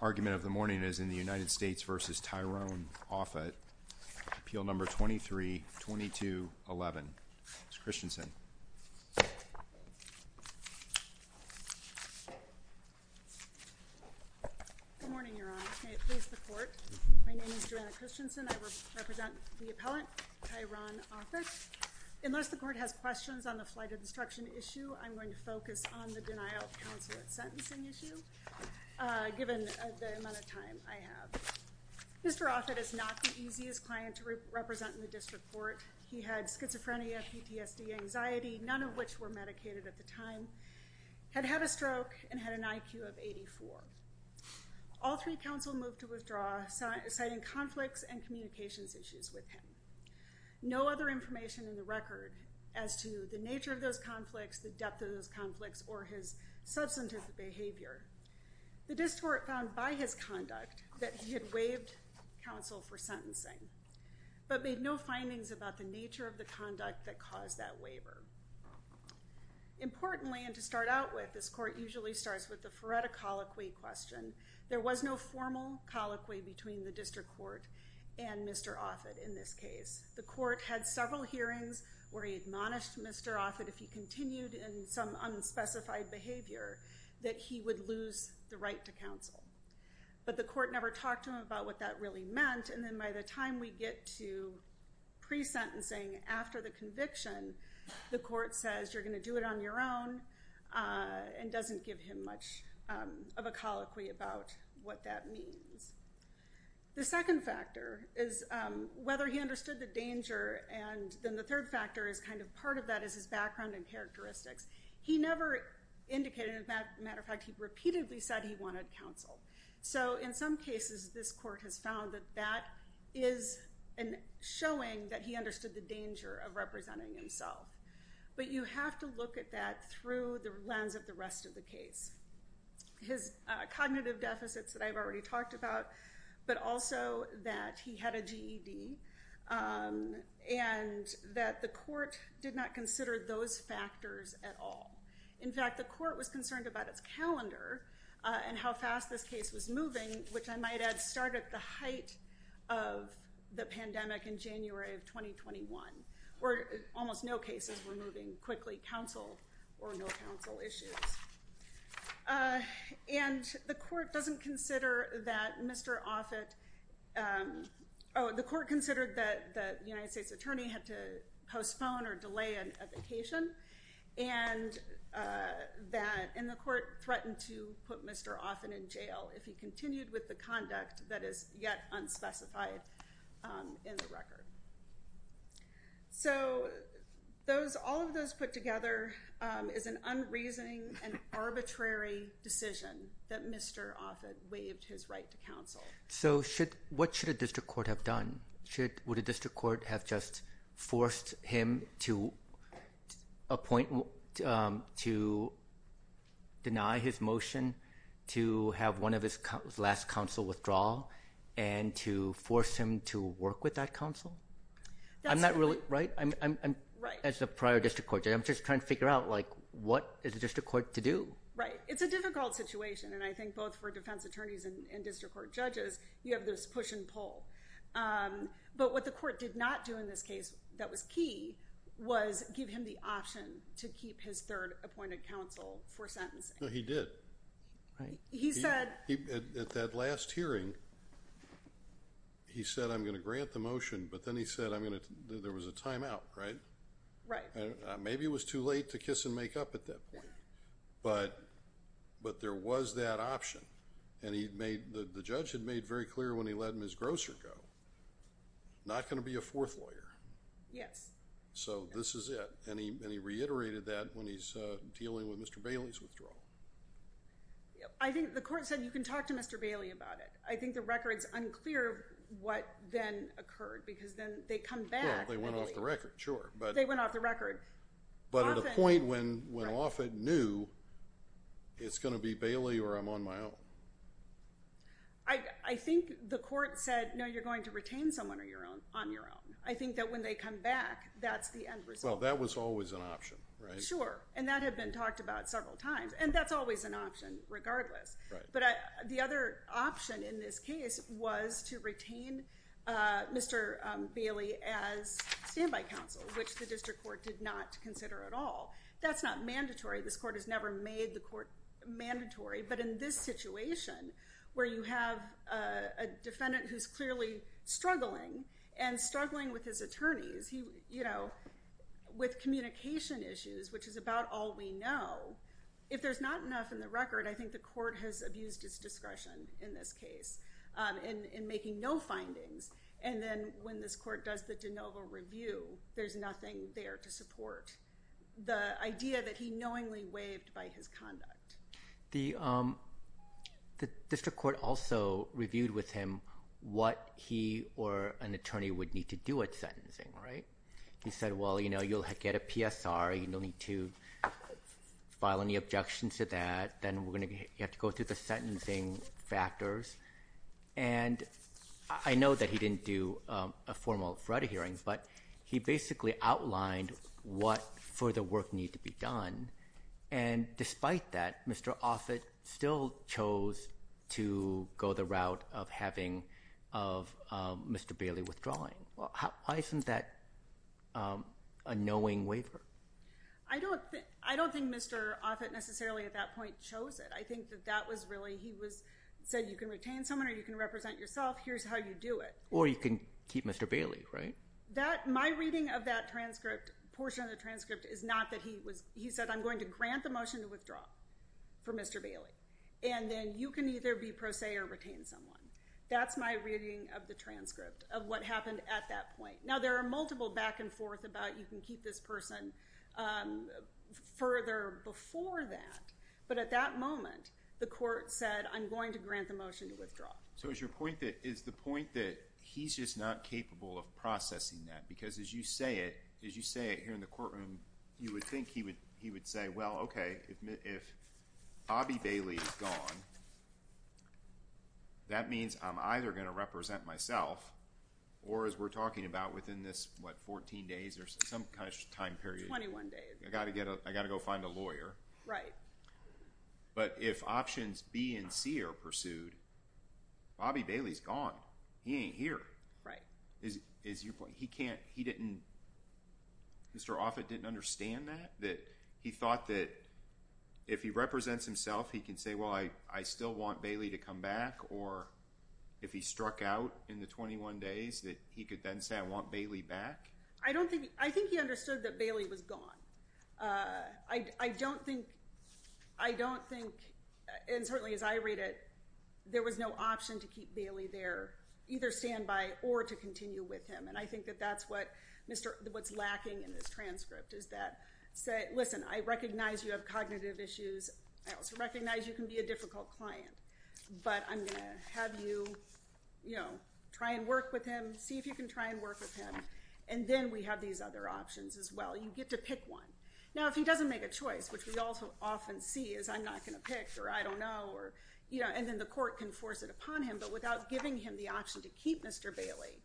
argument of the morning is in the United States v. Tyron Offutt, Appeal No. 23-2211. Ms. Christensen. Good morning, Your Honor. May it please the Court. My name is Joanna Christensen. I represent the appellant, Tyron Offutt. Unless the Court has questions on the flight of destruction issue, I'm going to focus on the denial of counsel at sentencing issue, given the amount of time I have. Mr. Offutt is not the easiest client to represent in the District Court. He had schizophrenia, PTSD, anxiety, none of which were medicated at the time, had had a stroke, and had an IQ of 84. All three counsel moved to withdraw, citing conflicts and communications issues with him. No other information in the record as to the nature of those conflicts, the depth of those conflicts, or his substantive behavior. The District Court found by his conduct that he had waived counsel for sentencing, but made no findings about the nature of the conduct that caused that waiver. Importantly, and to start out with, this Court usually starts with the Feretta colloquy question. There was no formal colloquy between the District Court and Mr. Offutt in this case. The Court had several hearings where he admonished Mr. Offutt if he continued in some unspecified behavior, that he would lose the right to counsel. But the Court never talked to him about what that really meant, and then by the time we get to pre-sentencing, after the conviction, the Court says, you're going to do it on your own, and doesn't give him much of a colloquy about what that means. The second factor is whether he understood the danger, and then the third factor is kind of part of that is his background and characteristics. He never indicated, as a matter of fact, he repeatedly said he wanted counsel. So in some cases, this Court has found that that is showing that he understood the danger of representing himself. But you have to look at that through the lens of the rest of the case. His cognitive deficits that I've already talked about, but also that he had a GED, and that the Court did not consider those factors at all. In fact, the Court was concerned about its calendar and how fast this case was moving, which I might add started at the height of the pandemic in January of 2021, where almost no cases were moving quickly, counsel or no counsel issues. And the Court doesn't consider that Mr. Offit, oh, the Court considered that the United States Attorney had to postpone or delay a vacation, and the Court threatened to put Mr. Offit in jail if he continued with the conduct that is yet unspecified in the record. So all of those put together is an unreasoning and arbitrary decision that Mr. Offit waived his right to counsel. So what should a district court have done? Would a district court have just forced him to deny his motion, to have one of his last counsel withdraw, and to force him to work with that counsel? I'm not really, right? As a prior district court judge, I'm just trying to figure out, like, what is a district court to do? Right. It's a difficult situation, and I think both for defense attorneys and district court judges, you have this push and pull. But what the Court did not do in this case that was key was give him the option to keep his third appointed counsel for sentencing. No, he did. He said... At that last hearing, he said, I'm going to grant the motion, but then he said, there was a timeout, right? Right. Maybe it was too late to kiss and make up at that point. But there was that option, and the judge had made very clear when he let Ms. Grosser go, not going to be a fourth lawyer. Yes. So, this is it. And he reiterated that when he's dealing with Mr. Bailey's withdrawal. I think the Court said, you can talk to Mr. Bailey about it. I think the record's unclear what then occurred, because then they come back... Well, they went off the record, sure. They went off the record. But at a point when Offit knew, it's going to be Bailey or I'm on my own. I think the Court said, no, you're going to retain someone on your own. I think that when they come back, that's the end result. Well, that was always an option, right? Sure. And that had been talked about several times. And that's always an option, regardless. But the other option in this case was to retain Mr. Bailey as standby counsel, which the District Court did not consider at all. That's not where you have a defendant who's clearly struggling and struggling with his attorneys, with communication issues, which is about all we know. If there's not enough in the record, I think the Court has abused its discretion in this case in making no findings. And then when this Court does the de novo review, there's nothing there to support the idea that he knowingly waived by his conduct. The District Court also reviewed with him what he or an attorney would need to do at sentencing, right? He said, well, you'll get a PSR. You don't need to file any objections to that. Then you have to go through the sentencing factors. And I know that he didn't do a formal threat hearing, but he basically outlined what further work needed to be done. And despite that, Mr. Offit still chose to go the route of having Mr. Bailey withdrawing. Why isn't that a knowing waiver? I don't think Mr. Offit necessarily at that point chose it. I think that that was really, he said you can retain someone or you can represent yourself. Here's how you do it. Or you can keep Mr. Bailey, right? That, my reading of that transcript, portion of the transcript is not that he was, he said I'm going to grant the motion to withdraw for Mr. Bailey. And then you can either be pro se or retain someone. That's my reading of the transcript of what happened at that point. Now there are multiple back and forth about you can keep this person further before that. But at that moment, the Court said I'm going to grant the motion to withdraw. So is your point that, is the point that he's just not capable of processing that? Because as you say it, as you say it here in the courtroom, you would think he would say, well, okay, if Bobby Bailey is gone, that means I'm either going to represent myself or as we're talking about within this, what, 14 days or some kind of time period. 21 days. I got to go find a lawyer. Right. But if options B and C are pursued, Bobby Bailey's gone. He ain't here. Right. Is your point, he can't, he didn't, Mr. Offit didn't understand that? That he thought that if he represents himself, he can say, well, I still want Bailey to come back? Or if he struck out in the 21 days, that he could then say I want Bailey back? I don't think, I think he understood that Bailey was gone. I don't think I don't think, and certainly as I read it, there was no option to keep Bailey there, either standby or to continue with him. And I think that that's what Mr., what's lacking in this transcript is that, say, listen, I recognize you have cognitive issues. I also recognize you can be a difficult client, but I'm going to have you, you know, try and work with him. See if you can try and work with him. And then we have these other options as well. You get to pick one. Now, if he doesn't make a choice, which we also often see is I'm not going to pick, or I don't know, or, you know, and then the court can force it upon him, but without giving him the option to keep Mr. Bailey,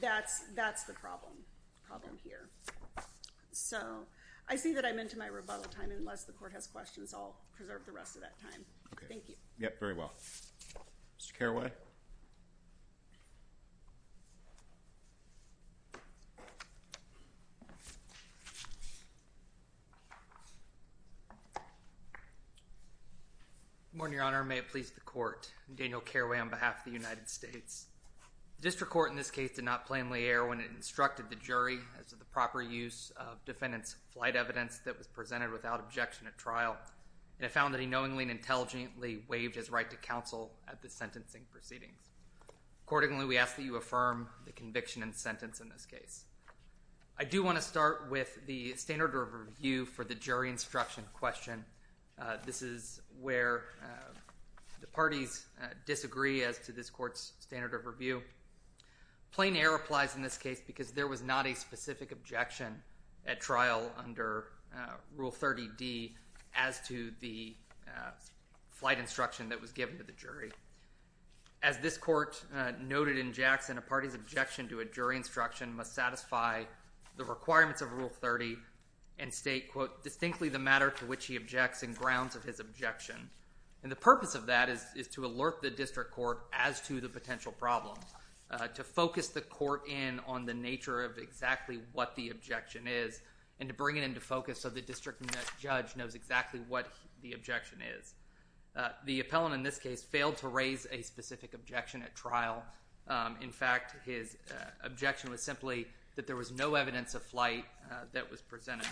that's, that's the problem, problem here. So, I see that I'm into my rebuttal time. Unless the court has questions, I'll preserve the rest of that time. Thank you. Yep, very well. Mr. Carraway? Good morning, Your Honor. May it please the court. I'm Daniel Carraway on behalf of the United States. The district court in this case did not plainly err when it instructed the jury as to the proper use of defendant's flight evidence that was presented without objection at trial, and it found that he knowingly and intelligently waived his right to counsel at the sentencing proceedings. Accordingly, we ask that you affirm the conviction and sentence in this case. I do want to start with the standard of review for the jury instruction question. This is where the parties disagree as to this court's standard of review. Plain error applies in this case because there was not a specific objection at trial under Rule 30D as to the flight instruction that was given to the jury. As this court noted in Jackson, a party's objection to a jury instruction must satisfy the requirements of Rule 30 and state, quote, distinctly the matter to which he objects and grounds of his objection. And the purpose of that is to alert the district court as to the potential problem, to focus the court in on the nature of exactly what the objection is and to bring it into focus so the district judge knows exactly what the objection is. The appellant in this case failed to raise a specific objection at trial. In fact, his objection was simply that there was no evidence of flight that was presented.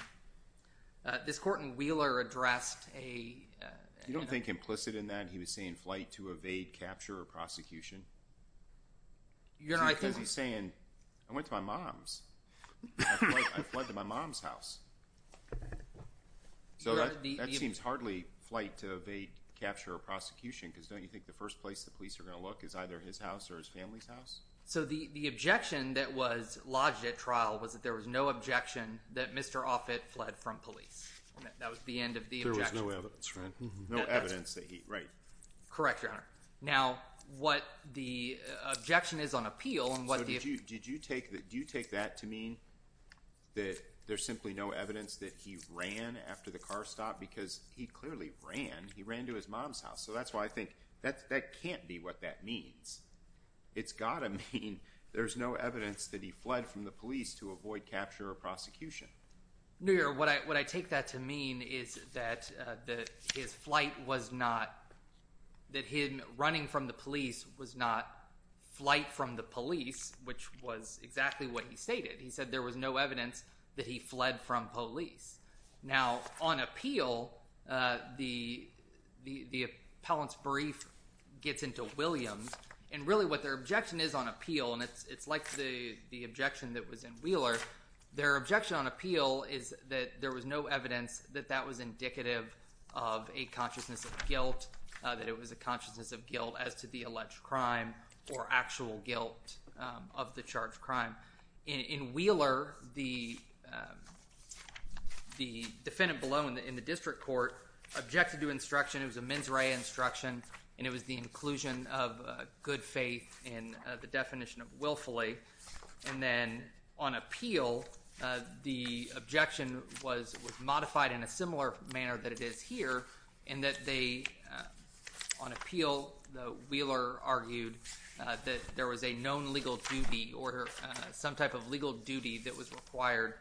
This court in Wheeler addressed a- You don't think implicit in that he was saying flight to evade, capture, or prosecution? Because he's saying, I went to my mom's. I fled to my mom's house. So that seems hardly flight to evade, capture, or prosecution because don't So the objection that was lodged at trial was that there was no objection that Mr. Offit fled from police. That was the end of the objection. There was no evidence, right? No evidence that he, right. Correct, Your Honor. Now, what the objection is on appeal and what the- So did you take that to mean that there's simply no evidence that he ran after the car stopped? Because he clearly ran. He ran to his mom's house. So that's why I think that can't be what that means. It's got to mean there's no evidence that he fled from the police to avoid capture or prosecution. No, Your Honor. What I take that to mean is that his flight was not- that him running from the police was not flight from the police, which was exactly what he stated. He said there was no evidence that he fled from police. Now, on appeal, the appellant's brief gets into Williams, and really what their objection is on appeal, and it's like the objection that was in Wheeler, their objection on appeal is that there was no evidence that that was indicative of a consciousness of guilt, that it was a consciousness of guilt as to the alleged crime or actual guilt of the charged crime. In Wheeler, the defendant below in the district court objected to instruction. It was a mens rea instruction, and it was the inclusion of good faith in the definition of willfully. And then on appeal, the objection was modified in a similar manner that it is here in that they, on appeal, the Wheeler argued that there was a known legal duty or some type of legal duty that was required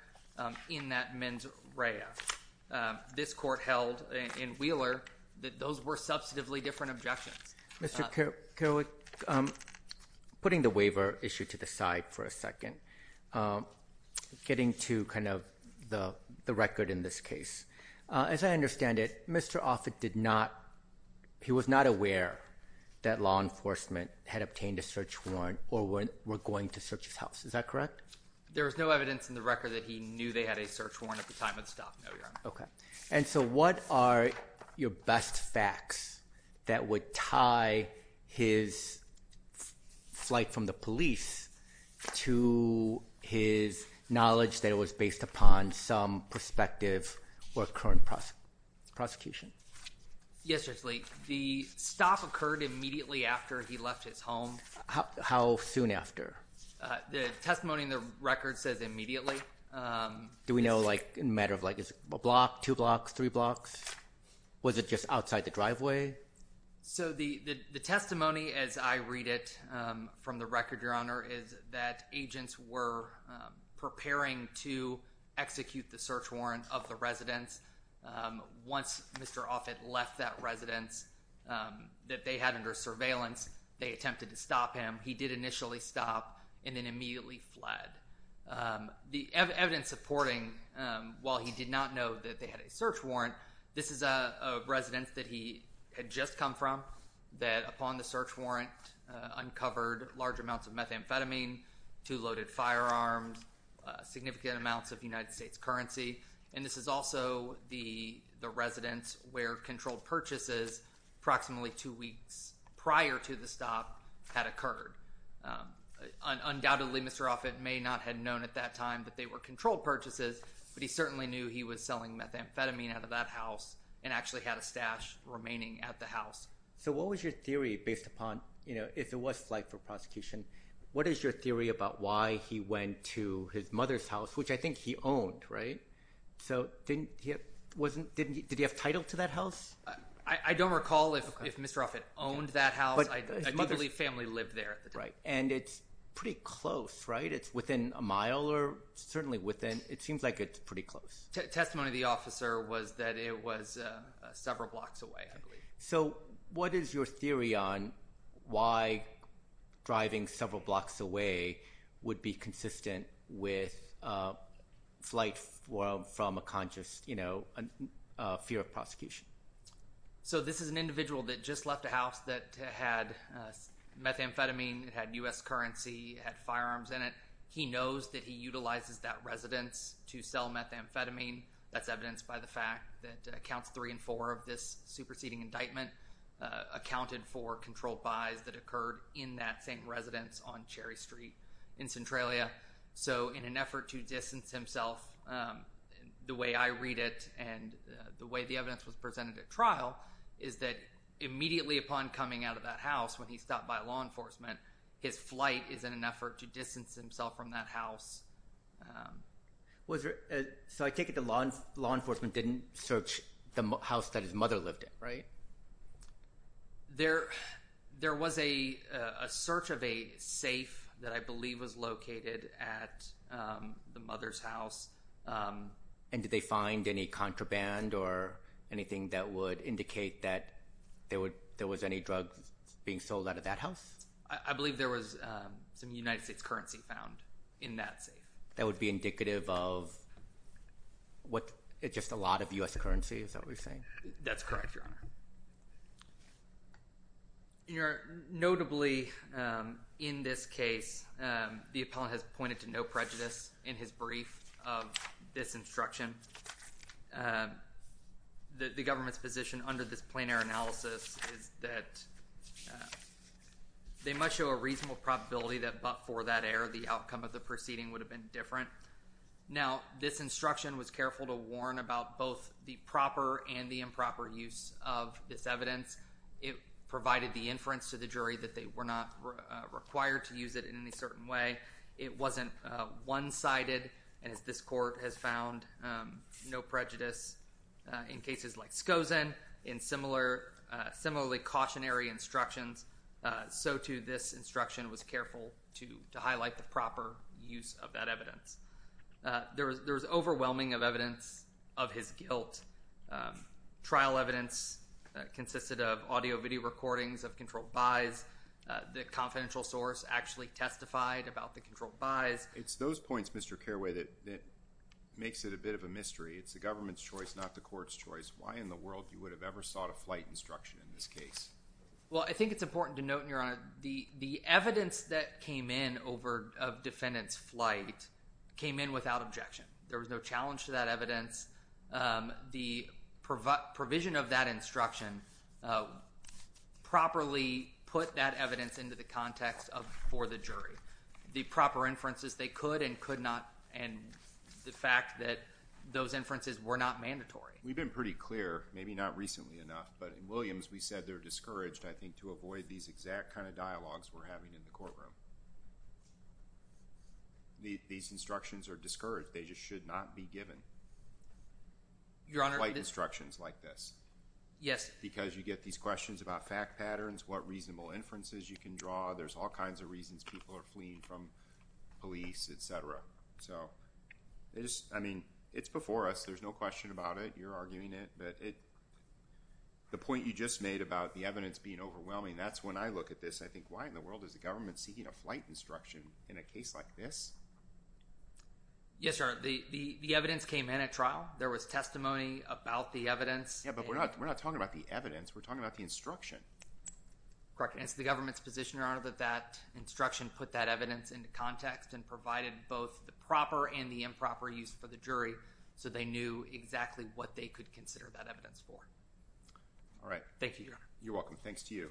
in that mens rea. This court held in Wheeler that those were substantively different objections. Mr. Kerwick, putting the waiver issue to the side for a second, getting to kind of the record in this case. As I understand it, Mr. Offit did not- Mr. Offit did not know that law enforcement had obtained a search warrant or were going to search his house. Is that correct? There was no evidence in the record that he knew they had a search warrant at the time of the stop. No, Your Honor. And so what are your best facts that would tie his flight from the police to his knowledge that it was based upon some perspective or current prosecution? Yes, Judge Lee. The stop occurred immediately after he left his home. How soon after? The testimony in the record says immediately. Do we know, like, in a matter of, like, a block, two blocks, three blocks? Was it just outside the driveway? So the testimony as I read it from the record, Your Honor, is that agents were preparing to execute the search warrant of the residence once Mr. Offit left that residence that they had under surveillance. They attempted to stop him. He did initially stop and then immediately fled. The evidence supporting, while he did not know that they had a search warrant, this is a residence that he had just come from, that upon the search warrant uncovered large amounts of methamphetamine, two loaded firearms, significant amounts of United States currency. And this is also the residence where controlled purchases approximately two weeks prior to the stop had occurred. Undoubtedly, Mr. Offit may not have known at that time that they were controlled purchases, but he certainly knew he was selling methamphetamine out of that house and actually had a stash remaining at the house. So what was your theory based upon, you know, if it was flight for prosecution, what is your theory about why he went to his mother's house, which I think he owned, right? So did he have title to that house? I don't recall if Mr. Offit owned that house. I believe family lived there. Right. And it's pretty close, right? It's within a mile or certainly within, it seems like it's pretty close. Testimony of the officer was that it was several blocks away, I believe. So what is your theory on why driving several blocks away would be consistent with flight from a conscious, you know, fear of prosecution? So this is an individual that just left a house that had methamphetamine, it had U.S. currency, it had firearms in it. He knows that he utilizes that residence to sell methamphetamine. That's evidenced by the fact that counts three and four of this superseding indictment accounted for controlled buys that occurred in that same residence on Cherry Street in Centralia. So in an effort to distance himself, the way I read it and the way the evidence was presented at trial, is that immediately upon coming out of that house, when he stopped by law enforcement, his flight is in an effort to distance himself from that house. So I take it the law enforcement didn't search the house that his mother lived in, right? There was a search of a safe that I believe was located at the mother's house. And did they find any contraband or anything that would indicate that there was any drugs being sold out of that house? I believe there was some United States currency found in that safe. That would be indicative of just a lot of U.S. currency, is that what you're saying? That's correct, Your Honor. Notably, in this case, the appellant has pointed to no prejudice in his brief of this instruction. The government's position under this plein air analysis is that they must show a reasonable probability that but for that error, the outcome of the proceeding would have been different. Now, this instruction was careful to warn about both the proper and the improper use of this evidence. It provided the inference to the jury that they were not required to use it in any certain way. It wasn't one-sided, and as this court has found, no prejudice in cases like Skozen, in similarly cautionary instructions. So, too, this instruction was careful to highlight the proper use of that evidence. There was overwhelming evidence of his guilt. Trial evidence consisted of audio-video recordings of controlled buys. The confidential source actually testified about the controlled buys. It's those points, Mr. Carraway, that makes it a bit of a mystery. It's the government's choice, not the court's choice. Why in the world you would have ever sought a flight instruction in this case? Well, I think it's important to note, Your Honor, the evidence that came in of defendant's flight came in without objection. There was no challenge to that evidence. The provision of that instruction properly put that evidence into the context for the jury. The proper inferences they could and could not, and the fact that those inferences were not mandatory. We've been pretty clear, maybe not recently enough, but in Williams we said they're discouraged, I think, to avoid these exact kind of dialogues we're having in the courtroom. These instructions are discouraged. They just should not be given flight instructions like this. Yes. Because you get these questions about fact patterns, what reasonable inferences you can draw. There's all kinds of reasons people are fleeing from police, et cetera. I mean, it's before us. There's no question about it. I know you're arguing it, but the point you just made about the evidence being overwhelming, that's when I look at this and I think, why in the world is the government seeking a flight instruction in a case like this? Yes, Your Honor. The evidence came in at trial. There was testimony about the evidence. Yeah, but we're not talking about the evidence. We're talking about the instruction. Correct, and it's the government's position, Your Honor, that that instruction put that evidence into context and provided both the proper and the improper use for the jury so they knew exactly what they could consider that evidence for. All right. Thank you, Your Honor. You're welcome. Thanks to you.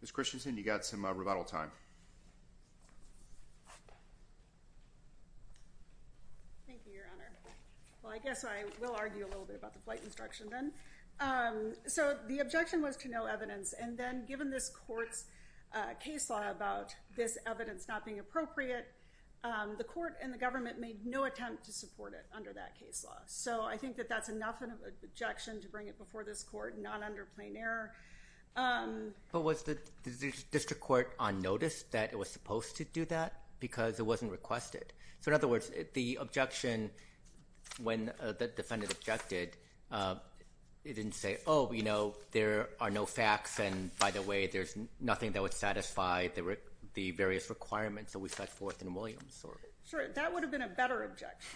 Ms. Christensen, you've got some rebuttal time. Thank you, Your Honor. Well, I guess I will argue a little bit about the flight instruction then. So the objection was to no evidence, and then given this court's case law about this evidence not being appropriate, the court and the government made no attempt to support it under that case law. So I think that that's enough of an objection to bring it before this court, not under plain error. But was the district court on notice that it was supposed to do that because it wasn't requested? So in other words, the objection when the defendant objected, it didn't say, oh, you know, there are no facts, and by the way, there's nothing that would satisfy the various requirements that we set forth in Williams. Sure. That would have been a better objection.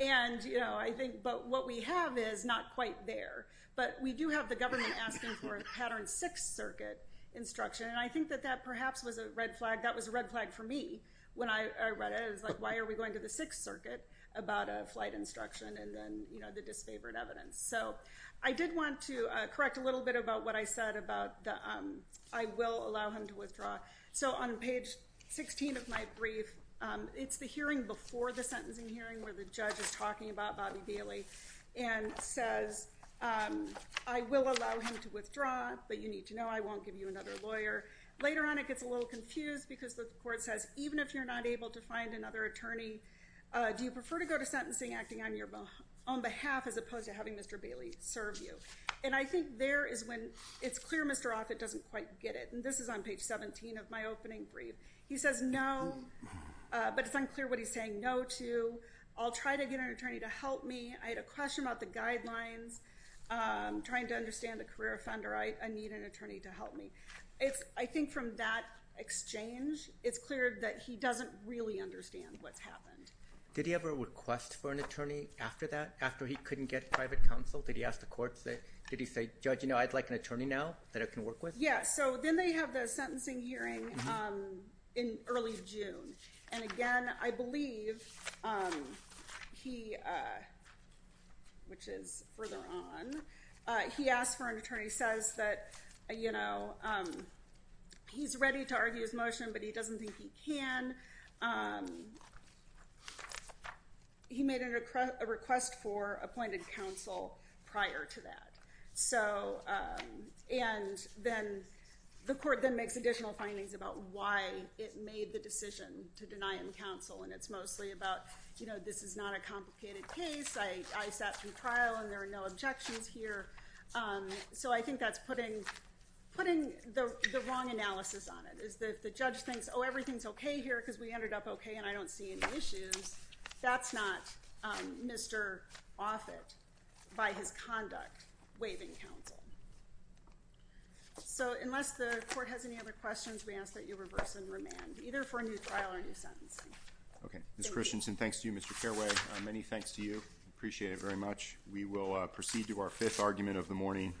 And, you know, I think what we have is not quite there, but we do have the government asking for a Pattern 6 circuit instruction, and I think that that perhaps was a red flag. That was a red flag for me when I read it. It was like, why are we going to the 6th circuit about a flight instruction and then, you know, the disfavored evidence? So I did want to correct a little bit about what I said about the I will allow him to withdraw. So on page 16 of my brief, it's the hearing before the sentencing hearing where the judge is talking about Bobby Bailey and says, I will allow him to withdraw, but you need to know I won't give you another lawyer. Later on it gets a little confused because the court says, even if you're not able to find another attorney, do you prefer to go to sentencing acting on your own behalf as opposed to having Mr. Bailey serve you? And I think there is when it's clear Mr. Offit doesn't quite get it, and this is on page 17 of my opening brief. He says no, but it's unclear what he's saying no to. I'll try to get an attorney to help me. I had a question about the guidelines. I'm trying to understand a career offender. I need an attorney to help me. I think from that exchange it's clear that he doesn't really understand what's happened. Did he ever request for an attorney after that, after he couldn't get private counsel? Did he ask the courts? Did he say, Judge, you know, I'd like an attorney now that I can work with? Yeah, so then they have the sentencing hearing in early June. And, again, I believe he, which is further on, he asked for an attorney. He says that, you know, he's ready to argue his motion, but he doesn't think he can. He made a request for appointed counsel prior to that. And then the court then makes additional findings about why it made the decision to deny him counsel. And it's mostly about, you know, this is not a complicated case. I sat through trial and there are no objections here. So I think that's putting the wrong analysis on it. If the judge thinks, oh, everything's okay here because we ended up okay and I don't see any issues, that's not Mr. Offit by his conduct. That's not waiving counsel. So unless the court has any other questions, we ask that you reverse and remand, either for a new trial or new sentencing. Okay. Ms. Christensen, thanks to you, Mr. Careway. Many thanks to you. Appreciate it very much. We will proceed to our fifth argument of the morning.